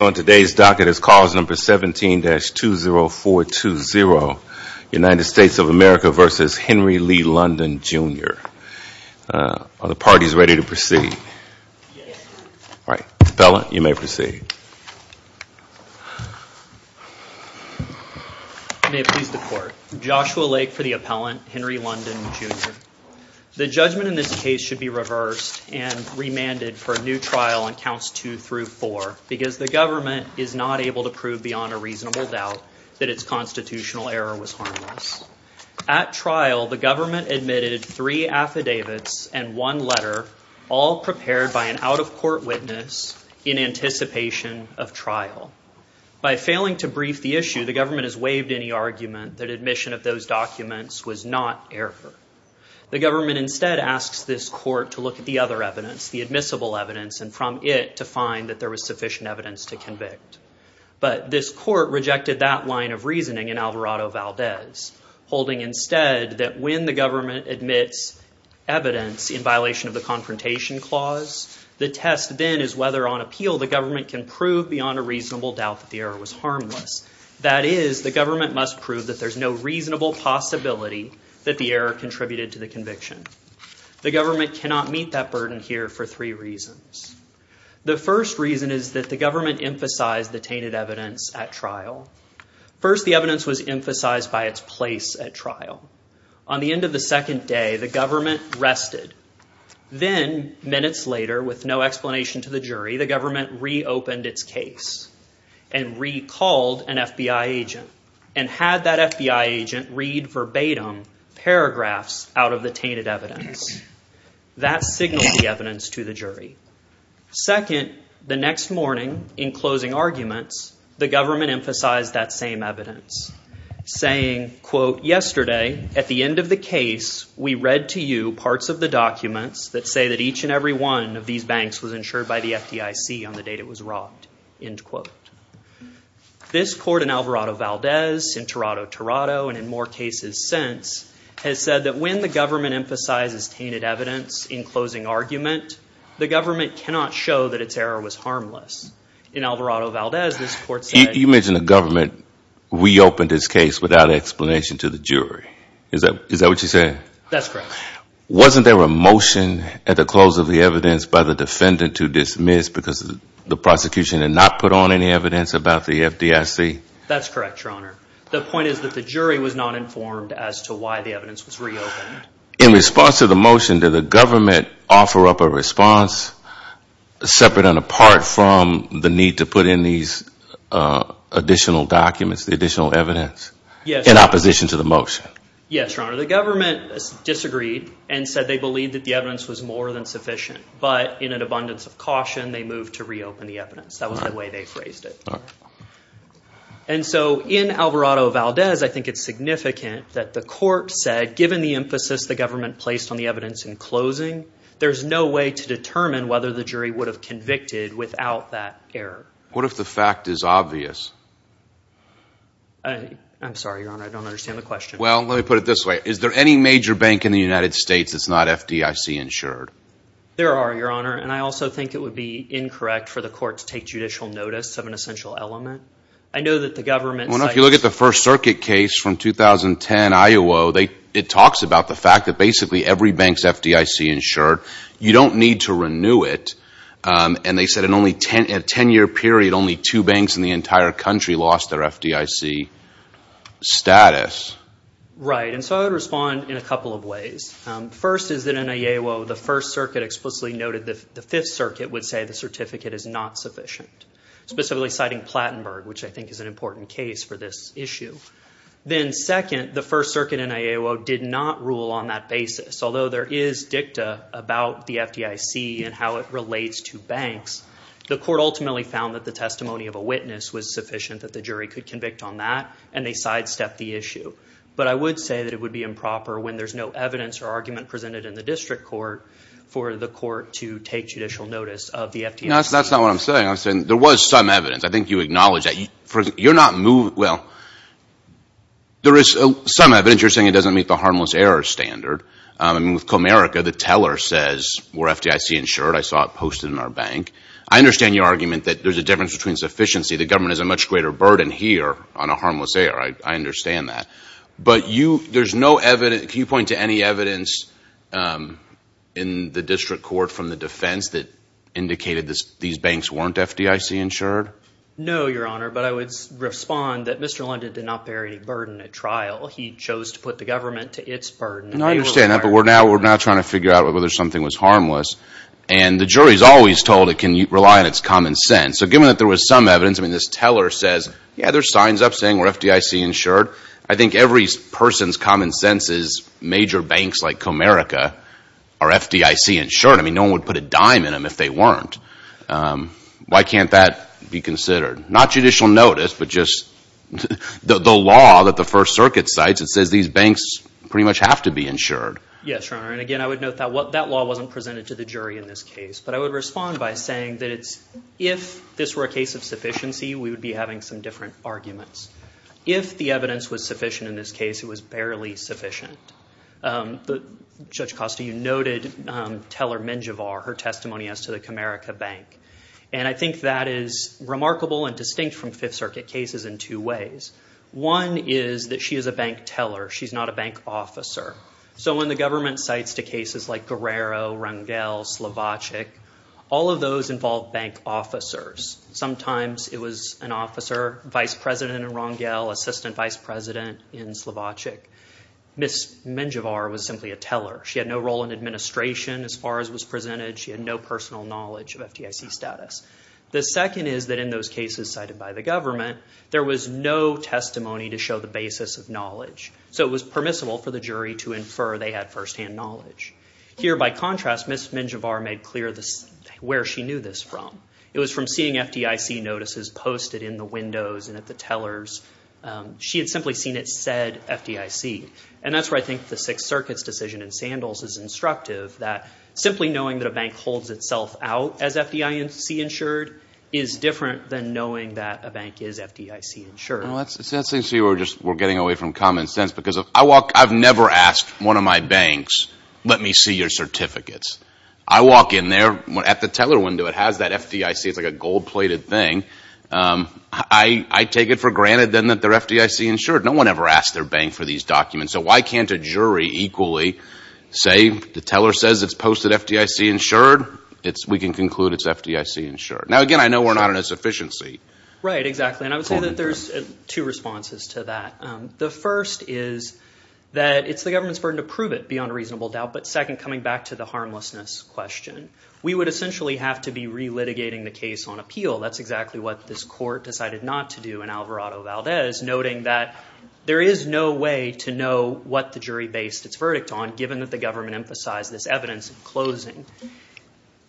On today's docket is clause number 17-20420, United States of America v. Henry Lee London, Jr. Are the parties ready to proceed? Right. Appellant, you may proceed. May it please the court. Joshua Lake for the appellant, Henry London, Jr. The judgment in this case should be reversed and remanded for a new trial on counts 2 through 4 because the government is not able to prove beyond a reasonable doubt that its constitutional error was harmless. At trial, the government admitted three affidavits and one letter, all prepared by an out-of-court witness in anticipation of trial. By failing to brief the issue, the government has waived any argument that admission of those documents was not error. The government instead asks this court to look at the other evidence, the admissible evidence, and from it to find that there was sufficient evidence to convict. But this court rejected that line of reasoning in Alvarado-Valdez, holding instead that when the government admits evidence in violation of the confrontation clause, the test then is whether on appeal the government can prove beyond a reasonable doubt that the error was harmless. That is, the government must prove that there's no reasonable possibility that the error contributed to the conviction. The government cannot meet that burden here for three reasons. The first reason is that the government emphasized the tainted evidence at trial. First, the evidence was emphasized by its place at trial. On the end of the second day, the government rested. Then, minutes later, with no explanation to the jury, the government reopened its case and recalled an FBI agent and had that FBI agent read verbatim paragraphs out of the tainted evidence. That signaled the evidence to the jury. Second, the next morning, in closing arguments, the government emphasized that same evidence, saying, quote, yesterday, at the end of the case, we read to you parts of the documents that say that each and every one of these banks was insured by the FDIC on the date it was robbed, end quote. This court in Alvarado-Valdez, in Toronto-Toronto, and in more cases since, has said that when the government emphasizes tainted evidence in closing argument, the government cannot show that its error was harmless. In Alvarado-Valdez, this court said... You mentioned the government reopened its case without explanation to the jury. Is that what you're saying? That's correct. Wasn't there a motion at the close of the evidence by the defendant to dismiss because the prosecution had not put on any evidence about the FDIC? That's correct, Your Honor. The point is that the jury was not informed as to why the evidence was reopened. In response to the motion, did the government offer up a response, separate and apart from the need to put in these additional documents, the additional evidence, in opposition to the motion? Yes, Your Honor. The government disagreed and said they believed that the evidence was more than sufficient. But in an abundance of caution, they moved to reopen the evidence. That was the way they phrased it. And so, in Alvarado-Valdez, I think it's significant that the court said, given the emphasis the government placed on the evidence in closing, there's no way to determine whether the jury would have convicted without that error. What if the fact is obvious? I'm sorry, Your Honor, I don't understand the question. Well, let me put it this way. Is there any major bank in the United States that's not FDIC-insured? There are, Your Honor, and I also think it would be incorrect for the court to take judicial notice of an essential element. I know that the government… Well, if you look at the First Circuit case from 2010, Iowa, it talks about the fact that basically every bank's FDIC-insured. You don't need to renew it. And they said in a 10-year period, only two banks in the entire country lost their FDIC status. Right, and so I would respond in a couple of ways. First is that in Iowa, the First Circuit explicitly noted that the Fifth Circuit would say the certificate is not sufficient, specifically citing Plattenberg, which I think is an important case for this issue. Then second, the First Circuit in Iowa did not rule on that basis. Although there is dicta about the FDIC and how it relates to banks, the court ultimately found that the testimony of a witness was sufficient that the jury could convict on that and they sidestepped the issue. But I would say that it would be improper when there's no evidence or argument presented in the district court for the court to take judicial notice of the FDIC. That's not what I'm saying. I'm saying there was some evidence. I think you acknowledge that. You're not moving… Well, there is some evidence you're saying it doesn't meet the harmless error standard. I mean, with Comerica, the teller says, we're FDIC-insured. I saw it posted in our bank. I understand your argument that there's a difference between sufficiency. The government has a much greater burden here on a harmless error. I understand that. But you… There's no evidence… Can you point to any evidence in the district court from the defense that indicated these banks weren't FDIC-insured? No, Your Honor, but I would respond that Mr. London did not bear any burden at trial. He chose to put the government to its burden. And I understand that, but we're now trying to figure out whether something was harmless. And the jury's always told it can rely on its common sense. So given that there was some evidence, I mean, this teller says, yeah, there's signs up there saying we're FDIC-insured. I think every person's common sense is major banks like Comerica are FDIC-insured. I mean, no one would put a dime in them if they weren't. Why can't that be considered? Not judicial notice, but just the law that the First Circuit cites, it says these banks pretty much have to be insured. Yes, Your Honor. And again, I would note that that law wasn't presented to the jury in this case. But I would respond by saying that it's, if this were a case of sufficiency, we would be having some different arguments. If the evidence was sufficient in this case, it was barely sufficient. Judge Costa, you noted teller Menjivar, her testimony as to the Comerica Bank. And I think that is remarkable and distinct from Fifth Circuit cases in two ways. One is that she is a bank teller. She's not a bank officer. So when the government cites to cases like Guerrero, Rangel, Slovacic, all of those involve bank officers. Sometimes it was an officer, vice president in Rangel, assistant vice president in Slovacic. Ms. Menjivar was simply a teller. She had no role in administration as far as was presented. She had no personal knowledge of FDIC status. The second is that in those cases cited by the government, there was no testimony to show the basis of knowledge. So it was permissible for the jury to infer they had firsthand knowledge. Here by contrast, Ms. Menjivar made clear where she knew this from. It was from seeing FDIC notices posted in the windows and at the tellers. She had simply seen it said FDIC. And that's where I think the Sixth Circuit's decision in Sandals is instructive that simply knowing that a bank holds itself out as FDIC insured is different than knowing that a bank is FDIC insured. Well, that's interesting to see where we're just getting away from common sense. Because I walk, I've never asked one of my banks, let me see your certificates. I walk in there at the teller window, it has that FDIC, it's like a gold-plated thing. I take it for granted then that they're FDIC insured. No one ever asked their bank for these documents. So why can't a jury equally say the teller says it's posted FDIC insured, we can conclude it's FDIC insured. Now, again, I know we're not in a sufficiency. Right, exactly. And I would say that there's two responses to that. The first is that it's the government's burden to prove it beyond reasonable doubt. But second, coming back to the harmlessness question. We would essentially have to be re-litigating the case on appeal. That's exactly what this court decided not to do in Alvarado Valdez, noting that there is no way to know what the jury based its verdict on, given that the government emphasized this evidence in closing.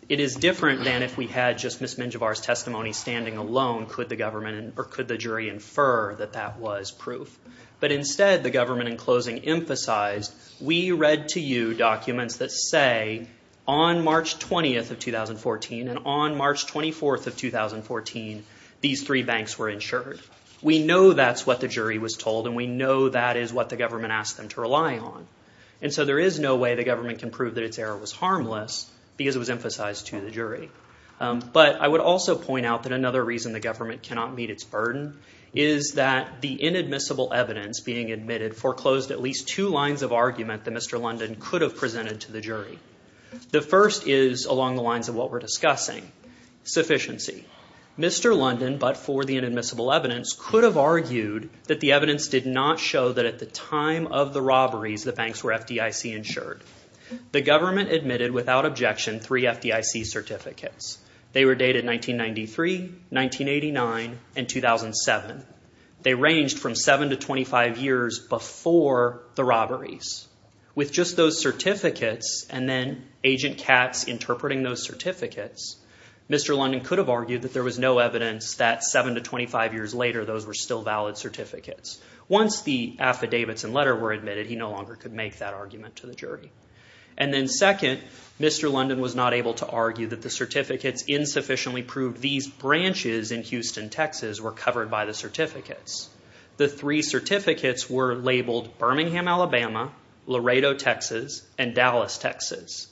It is different than if we had just Ms. Menjivar's testimony standing alone. Could the government, or could the jury infer that that was proof? But instead, the government, in closing, emphasized, we read to you documents that say, on March 20th of 2014, and on March 24th of 2014, these three banks were insured. We know that's what the jury was told, and we know that is what the government asked them to rely on. And so there is no way the government can prove that its error was harmless because it was emphasized to the jury. But I would also point out that another reason the government cannot meet its burden is that the inadmissible evidence being admitted foreclosed at least two lines of argument that Mr. London could have presented to the jury. The first is, along the lines of what we're discussing, sufficiency. Mr. London, but for the inadmissible evidence, could have argued that the evidence did not show that at the time of the robberies, the banks were FDIC insured. The government admitted, without objection, three FDIC certificates. They were dated 1993, 1989, and 2007. They ranged from 7 to 25 years before the robberies. With just those certificates, and then Agent Katz interpreting those certificates, Mr. London could have argued that there was no evidence that 7 to 25 years later, those were still valid certificates. Once the affidavits and letter were admitted, he no longer could make that argument to the jury. And then second, Mr. London was not able to argue that the certificates insufficiently branches in Houston, Texas, were covered by the certificates. The three certificates were labeled Birmingham, Alabama, Laredo, Texas, and Dallas, Texas.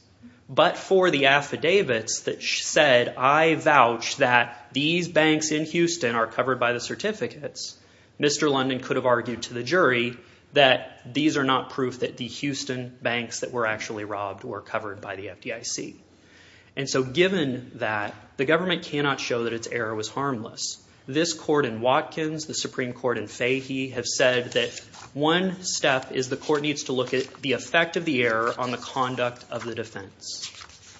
But for the affidavits that said, I vouch that these banks in Houston are covered by the certificates, Mr. London could have argued to the jury that these are not proof that the Houston banks that were actually robbed were covered by the FDIC. And so given that, the government cannot show that its error was harmless. This court in Watkins, the Supreme Court in Fahey, have said that one step is the court needs to look at the effect of the error on the conduct of the defense.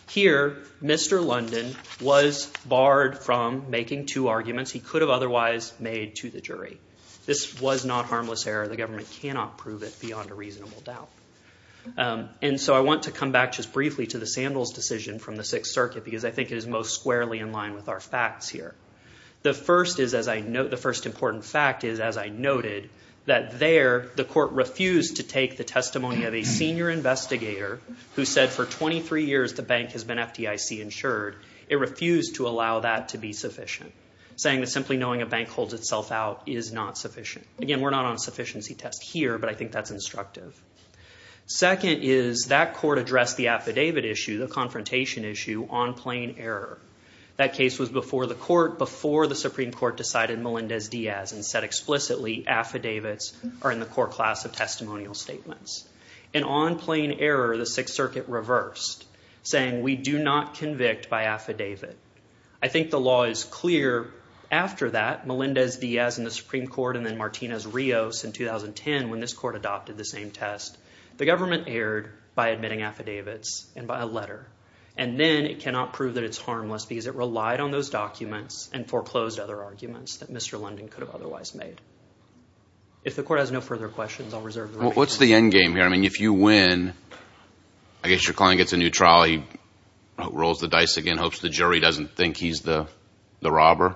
Here, Mr. London was barred from making two arguments he could have otherwise made to the jury. This was not harmless error. The government cannot prove it beyond a reasonable doubt. And so I want to come back just briefly to the Sandals decision from the Sixth Circuit because I think it is most squarely in line with our facts here. The first important fact is, as I noted, that there the court refused to take the testimony of a senior investigator who said for 23 years the bank has been FDIC insured. It refused to allow that to be sufficient, saying that simply knowing a bank holds itself out is not sufficient. Again, we're not on a sufficiency test here, but I think that's instructive. Second is that court addressed the affidavit issue, the confrontation issue, on plain error. That case was before the court, before the Supreme Court decided Melendez-Diaz and said explicitly affidavits are in the core class of testimonial statements. And on plain error, the Sixth Circuit reversed, saying we do not convict by affidavit. I think the law is clear after that, Melendez-Diaz in the Supreme Court and then Martinez-Rios in 2010 when this court adopted the same test. The government erred by admitting affidavits and by a letter. And then it cannot prove that it's harmless because it relied on those documents and foreclosed other arguments that Mr. London could have otherwise made. If the court has no further questions, I'll reserve the remaining time. What's the endgame here? I mean, if you win, I guess your client gets a new trolley, rolls the dice again, hopes the jury doesn't think he's the robber?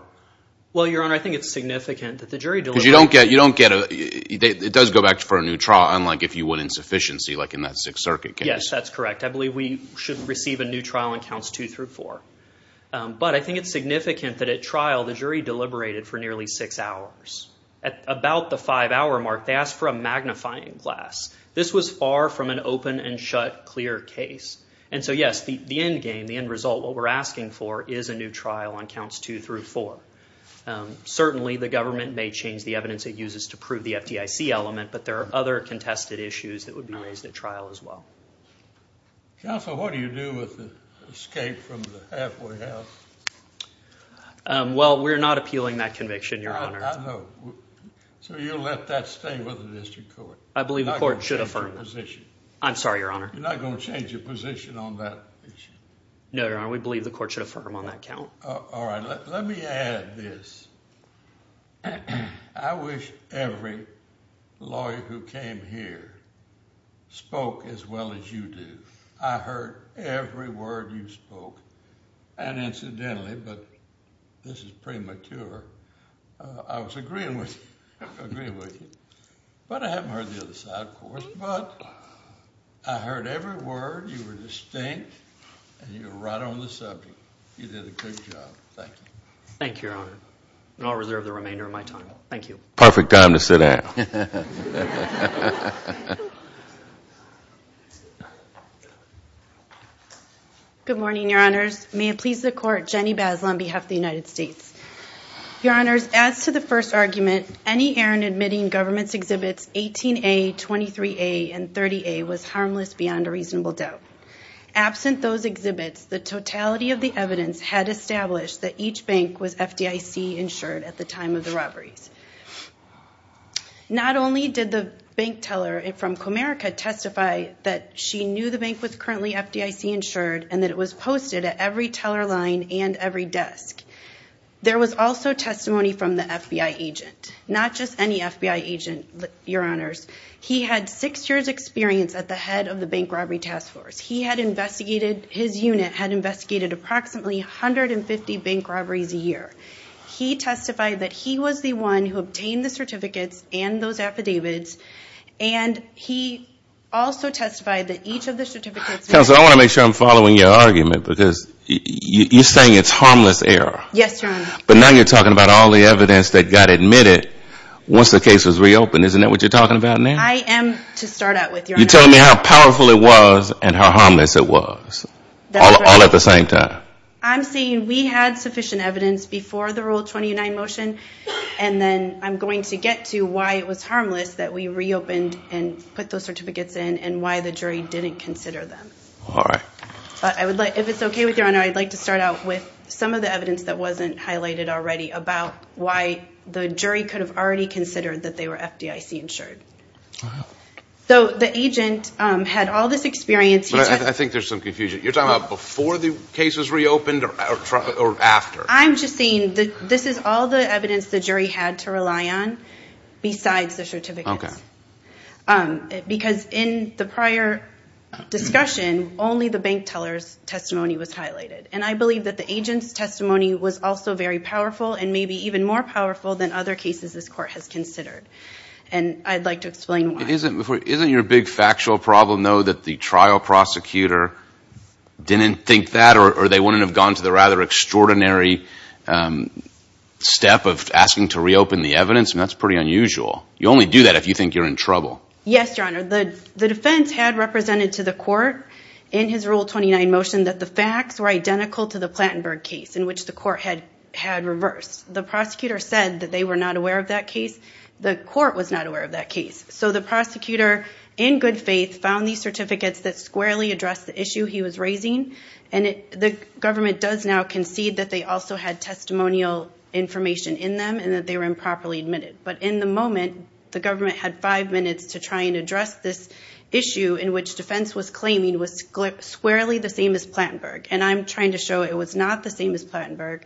Well, Your Honor, I think it's significant that the jury deliberated. Because you don't get, you don't get, it does go back for a new trial, unlike if you win insufficiency like in that Sixth Circuit case. Yes, that's correct. I believe we should receive a new trial in counts two through four. But I think it's significant that at trial, the jury deliberated for nearly six hours. About the five-hour mark, they asked for a magnifying glass. This was far from an open and shut, clear case. And so, yes, the endgame, the end result, what we're asking for is a new trial on counts two through four. Certainly, the government may change the evidence it uses to prove the FDIC element, but there are other contested issues that would be raised at trial as well. Counsel, what do you do with the escape from the halfway house? Well, we're not appealing that conviction, Your Honor. I know. So you'll let that stay with the district court? You're not going to change your position? I'm sorry, Your Honor. You're not going to change your position on that issue? No, Your Honor. We believe the court should affirm on that count. All right. Let me add this. I wish every lawyer who came here spoke as well as you do. I heard every word you spoke. And incidentally, but this is premature, I was agreeing with you, but I haven't heard the other side, of course, but I heard every word, you were distinct, and you were right on the subject. You did a good job. Thank you. Thank you, Your Honor. And I'll reserve the remainder of my time. Thank you. Perfect time to sit down. Good morning, Your Honors. May it please the court, Jenny Bazel on behalf of the United States. Your Honors, as to the first argument, any errand admitting government's exhibits 18A, 23A, and 30A was harmless beyond a reasonable doubt. Absent those exhibits, the totality of the evidence had established that each bank was FDIC insured at the time of the robberies. Not only did the bank teller from Comerica testify that she knew the bank was currently FDIC insured and that it was posted at every teller line and every desk. There was also testimony from the FBI agent. Not just any FBI agent, Your Honors. He had six years' experience at the head of the Bank Robbery Task Force. He had investigated, his unit had investigated approximately 150 bank robberies a year. He testified that he was the one who obtained the certificates and those affidavits, and he also testified that each of the certificates... Counselor, I want to make sure I'm following your argument, because you're saying it's harmless error. Yes, Your Honor. But now you're talking about all the evidence that got admitted once the case was reopened. Isn't that what you're talking about now? I am to start out with, Your Honor. You're telling me how powerful it was and how harmless it was, all at the same time. I'm saying we had sufficient evidence before the Rule 29 motion, and then I'm going to get to why it was harmless that we reopened and put those certificates in, and why the jury didn't consider them. All right. But I would like, if it's okay with you, Your Honor, I'd like to start out with some of the evidence that wasn't highlighted already about why the jury could have already considered that they were FDIC-insured. So the agent had all this experience... I think there's some confusion. You're talking about before the case was reopened or after? I'm just saying that this is all the evidence the jury had to rely on, besides the certificates. Because in the prior discussion, only the bank teller's testimony was highlighted. And I believe that the agent's testimony was also very powerful, and maybe even more powerful than other cases this Court has considered. And I'd like to explain why. Isn't your big factual problem, though, that the trial prosecutor didn't think that, or they wouldn't have gone to the rather extraordinary step of asking to reopen the evidence? And that's pretty unusual. You only do that if you think you're in trouble. Yes, Your Honor. The defense had represented to the Court in his Rule 29 motion that the facts were identical to the Plattenberg case, in which the Court had reversed. The prosecutor said that they were not aware of that case. The Court was not aware of that case. So the prosecutor, in good faith, found these certificates that squarely addressed the issue he was raising. And the government does now concede that they also had testimonial information in them, and that they were improperly admitted. But in the moment, the government had five minutes to try and address this issue in which defense was claiming was squarely the same as Plattenberg. And I'm trying to show it was not the same as Plattenberg.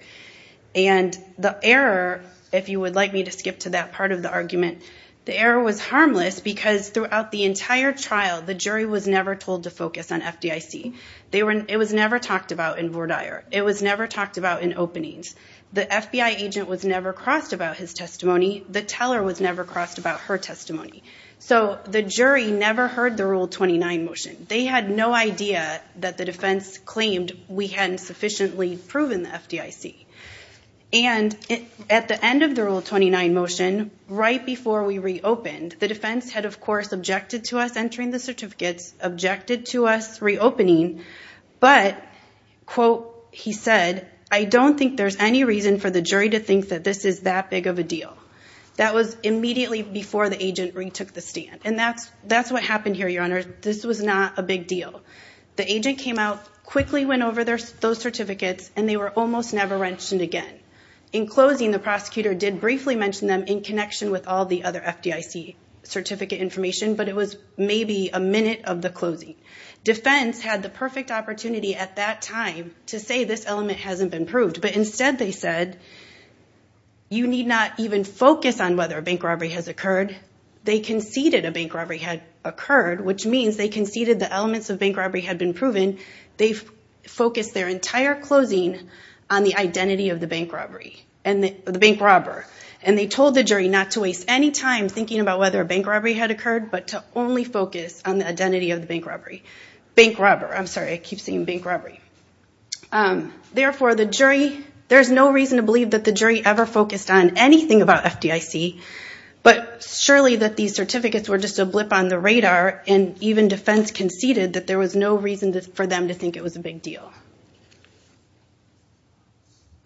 And the error, if you would like me to skip to that part of the argument, the error was harmless because throughout the entire trial, the jury was never told to focus on FDIC. It was never talked about in Vordaer. It was never talked about in openings. The FBI agent was never crossed about his testimony. The teller was never crossed about her testimony. So the jury never heard the Rule 29 motion. They had no idea that the defense claimed we hadn't sufficiently proven the FDIC. And at the end of the Rule 29 motion, right before we reopened, the defense had, of course, objected to us entering the certificates, objected to us reopening, but, quote, he said, I don't think there's any reason for the jury to think that this is that big of a deal. That was immediately before the agent retook the stand. And that's what happened here, Your Honor. This was not a big deal. The agent came out, quickly went over those certificates, and they were almost never mentioned again. In closing, the prosecutor did briefly mention them in connection with all the other FDIC certificate information, but it was maybe a minute of the closing. Defense had the perfect opportunity at that time to say this element hasn't been proved. But instead they said, you need not even focus on whether a bank robbery has occurred. They conceded a bank robbery had occurred, which means they conceded the elements of bank robbery had been proven. They focused their entire closing on the identity of the bank robbery and the bank robber. And they told the jury not to waste any time thinking about whether a bank robbery had occurred, but to only focus on the identity of the bank robbery. Bank robber. I'm sorry. I keep saying bank robbery. Therefore, the jury, there's no reason to believe that the jury ever focused on anything about FDIC. But surely that these certificates were just a blip on the radar, and even defense conceded that there was no reason for them to think it was a big deal.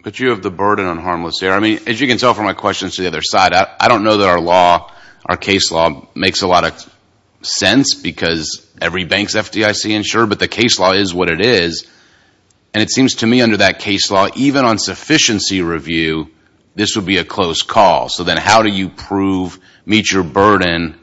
But you have the burden on harmless here. I mean, as you can tell from my questions to the other side, I don't know that our law, our case law makes a lot of sense because every bank's FDIC insured, but the case law is what it is. And it seems to me under that case law, even on sufficiency review, this would be a close call. So then how do you prove, meet your burden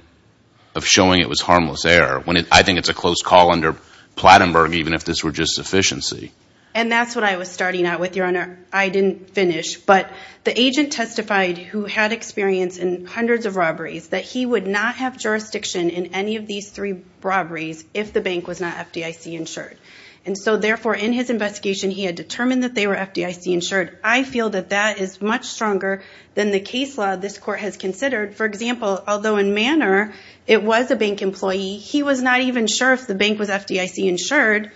of showing it was harmless error? I think it's a close call under Plattenberg, even if this were just sufficiency. And that's what I was starting out with, Your Honor. I didn't finish, but the agent testified who had experience in hundreds of robberies, that he would not have jurisdiction in any of these three robberies if the bank was not FDIC insured. And so therefore, in his investigation, he had determined that they were FDIC insured. I feel that that is much stronger than the case law this court has considered. For example, although in Manor, it was a bank employee, he was not even sure if the bank was FDIC insured,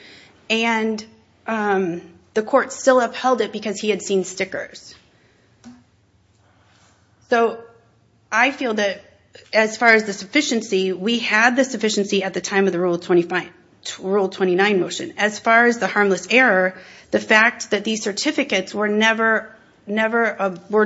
and the court still upheld it because he had seen stickers. So I feel that as far as the sufficiency, we had the sufficiency at the time of the Rule 29 motion. As far as the harmless error, the fact that these certificates were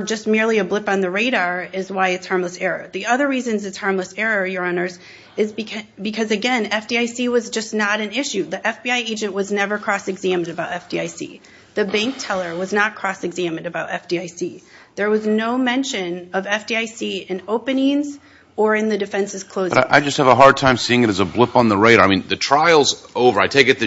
just merely a blip on the radar is why it's harmless error. The other reason it's harmless error, Your Honor, is because again, FDIC was just not an issue. The FBI agent was never cross-examined about FDIC. The bank teller was not cross-examined about FDIC. There was no mention of FDIC in openings or in the defense's closings. But I just have a hard time seeing it as a blip on the radar. I mean, the trial's over. I take it the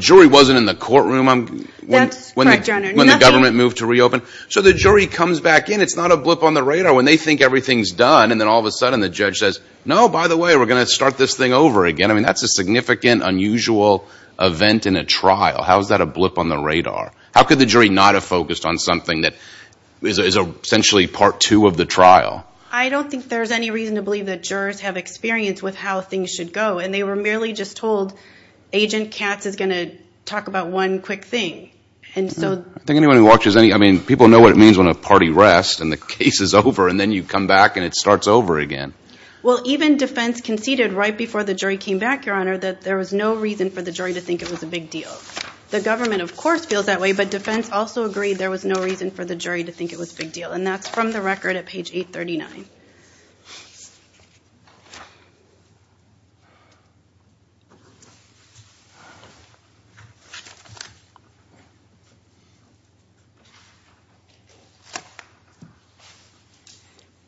jury wasn't in the courtroom when the government moved to reopen. So the jury comes back in. It's not a blip on the radar when they think everything's done, and then all of a sudden the judge says, no, by the way, we're going to start this thing over again. I mean, that's a significant, unusual event in a trial. How is that a blip on the radar? How could the jury not have focused on something that is essentially part two of the trial? I don't think there's any reason to believe that jurors have experience with how things should go, and they were merely just told, Agent Katz is going to talk about one quick thing. I think anyone who watches any, I mean, people know what it means when a party rests and the case is over, and then you come back and it starts over again. Well, even defense conceded right before the jury came back, Your Honor, that there was no reason for the jury to think it was a big deal. The government, of course, feels that way, but defense also agreed there was no reason for the jury to think it was a big deal, and that's from the record at page 839.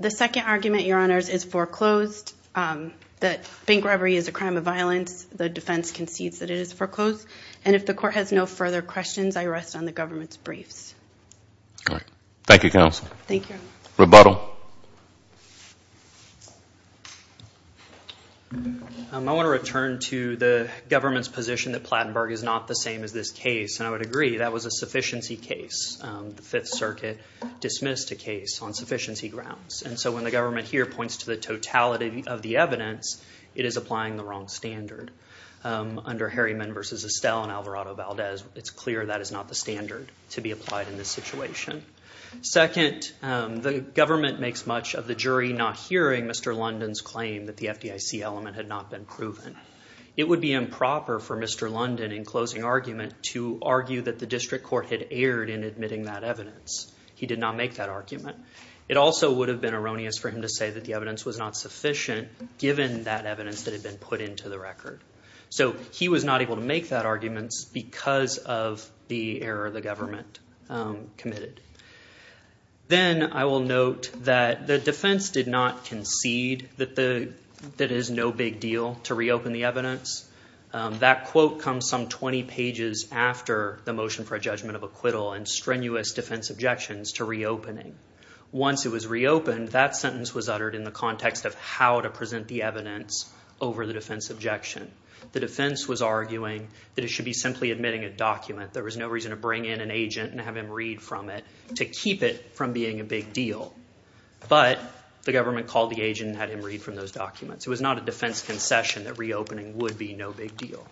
The second argument, Your Honors, is foreclosed, that bank robbery is a crime of violence. The defense concedes that it is foreclosed, and if the court has no further questions, I rest on the government's briefs. All right. Thank you, Counsel. Thank you. Rebuttal. I want to return to the government's position that Plattenberg is not the same as this case, and I would agree that was a sufficiency case. The Fifth Circuit dismissed a case on sufficiency grounds, and so when the government here points to the totality of the evidence, it is applying the wrong standard. Under Harriman v. Estelle and Alvarado-Valdez, it's clear that is not the standard to be applied in this situation. Second, the government makes much of the jury not hearing Mr. London's claim that the FDIC element had not been proven. It would be improper for Mr. London, in closing argument, to argue that the district court had erred in admitting that evidence. He did not make that argument. It also would have been erroneous for him to say that the evidence was not sufficient given that evidence that had been put into the record. So he was not able to make that argument because of the error the government committed. Then, I will note that the defense did not concede that it is no big deal to reopen the evidence. That quote comes some 20 pages after the motion for a judgment of acquittal and strenuous defense objections to reopening. Once it was reopened, that sentence was uttered in the context of how to present the evidence over the defense objection. The defense was arguing that it should be simply admitting a document. There was no reason to bring in an agent and have him read from it to keep it from being a big deal. But the government called the agent and had him read from those documents. It was not a defense concession that reopening would be no big deal.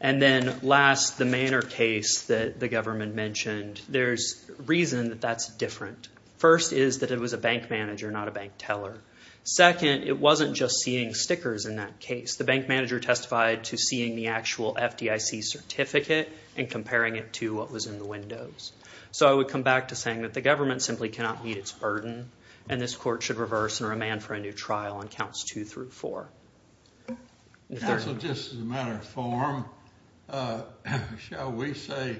And then last, the Manor case that the government mentioned, there's reason that that's different. First is that it was a bank manager, not a bank teller. Second, it wasn't just seeing stickers in that case. The bank manager testified to seeing the actual FDIC certificate and comparing it to what was in the windows. So I would come back to saying that the government simply cannot meet its burden, and this court should reverse and remand for a new trial on counts two through four. Counsel, just as a matter of form, shall we say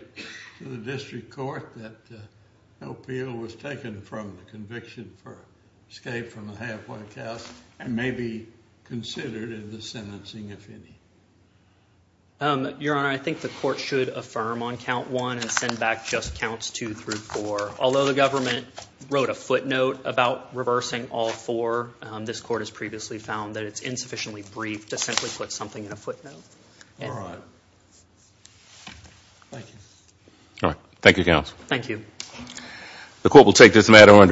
to the district court that the appeal was taken from the conviction for escape from the halfway cast and may be considered in the sentencing, if any? Your Honor, I think the court should affirm on count one and send back just counts two through four. Although the government wrote a footnote about reversing all four, this court has previously found that it's insufficiently brief to simply put something in a footnote. All right. Thank you. All right. Thank you, counsel. Thank you. The court will take this matter under review.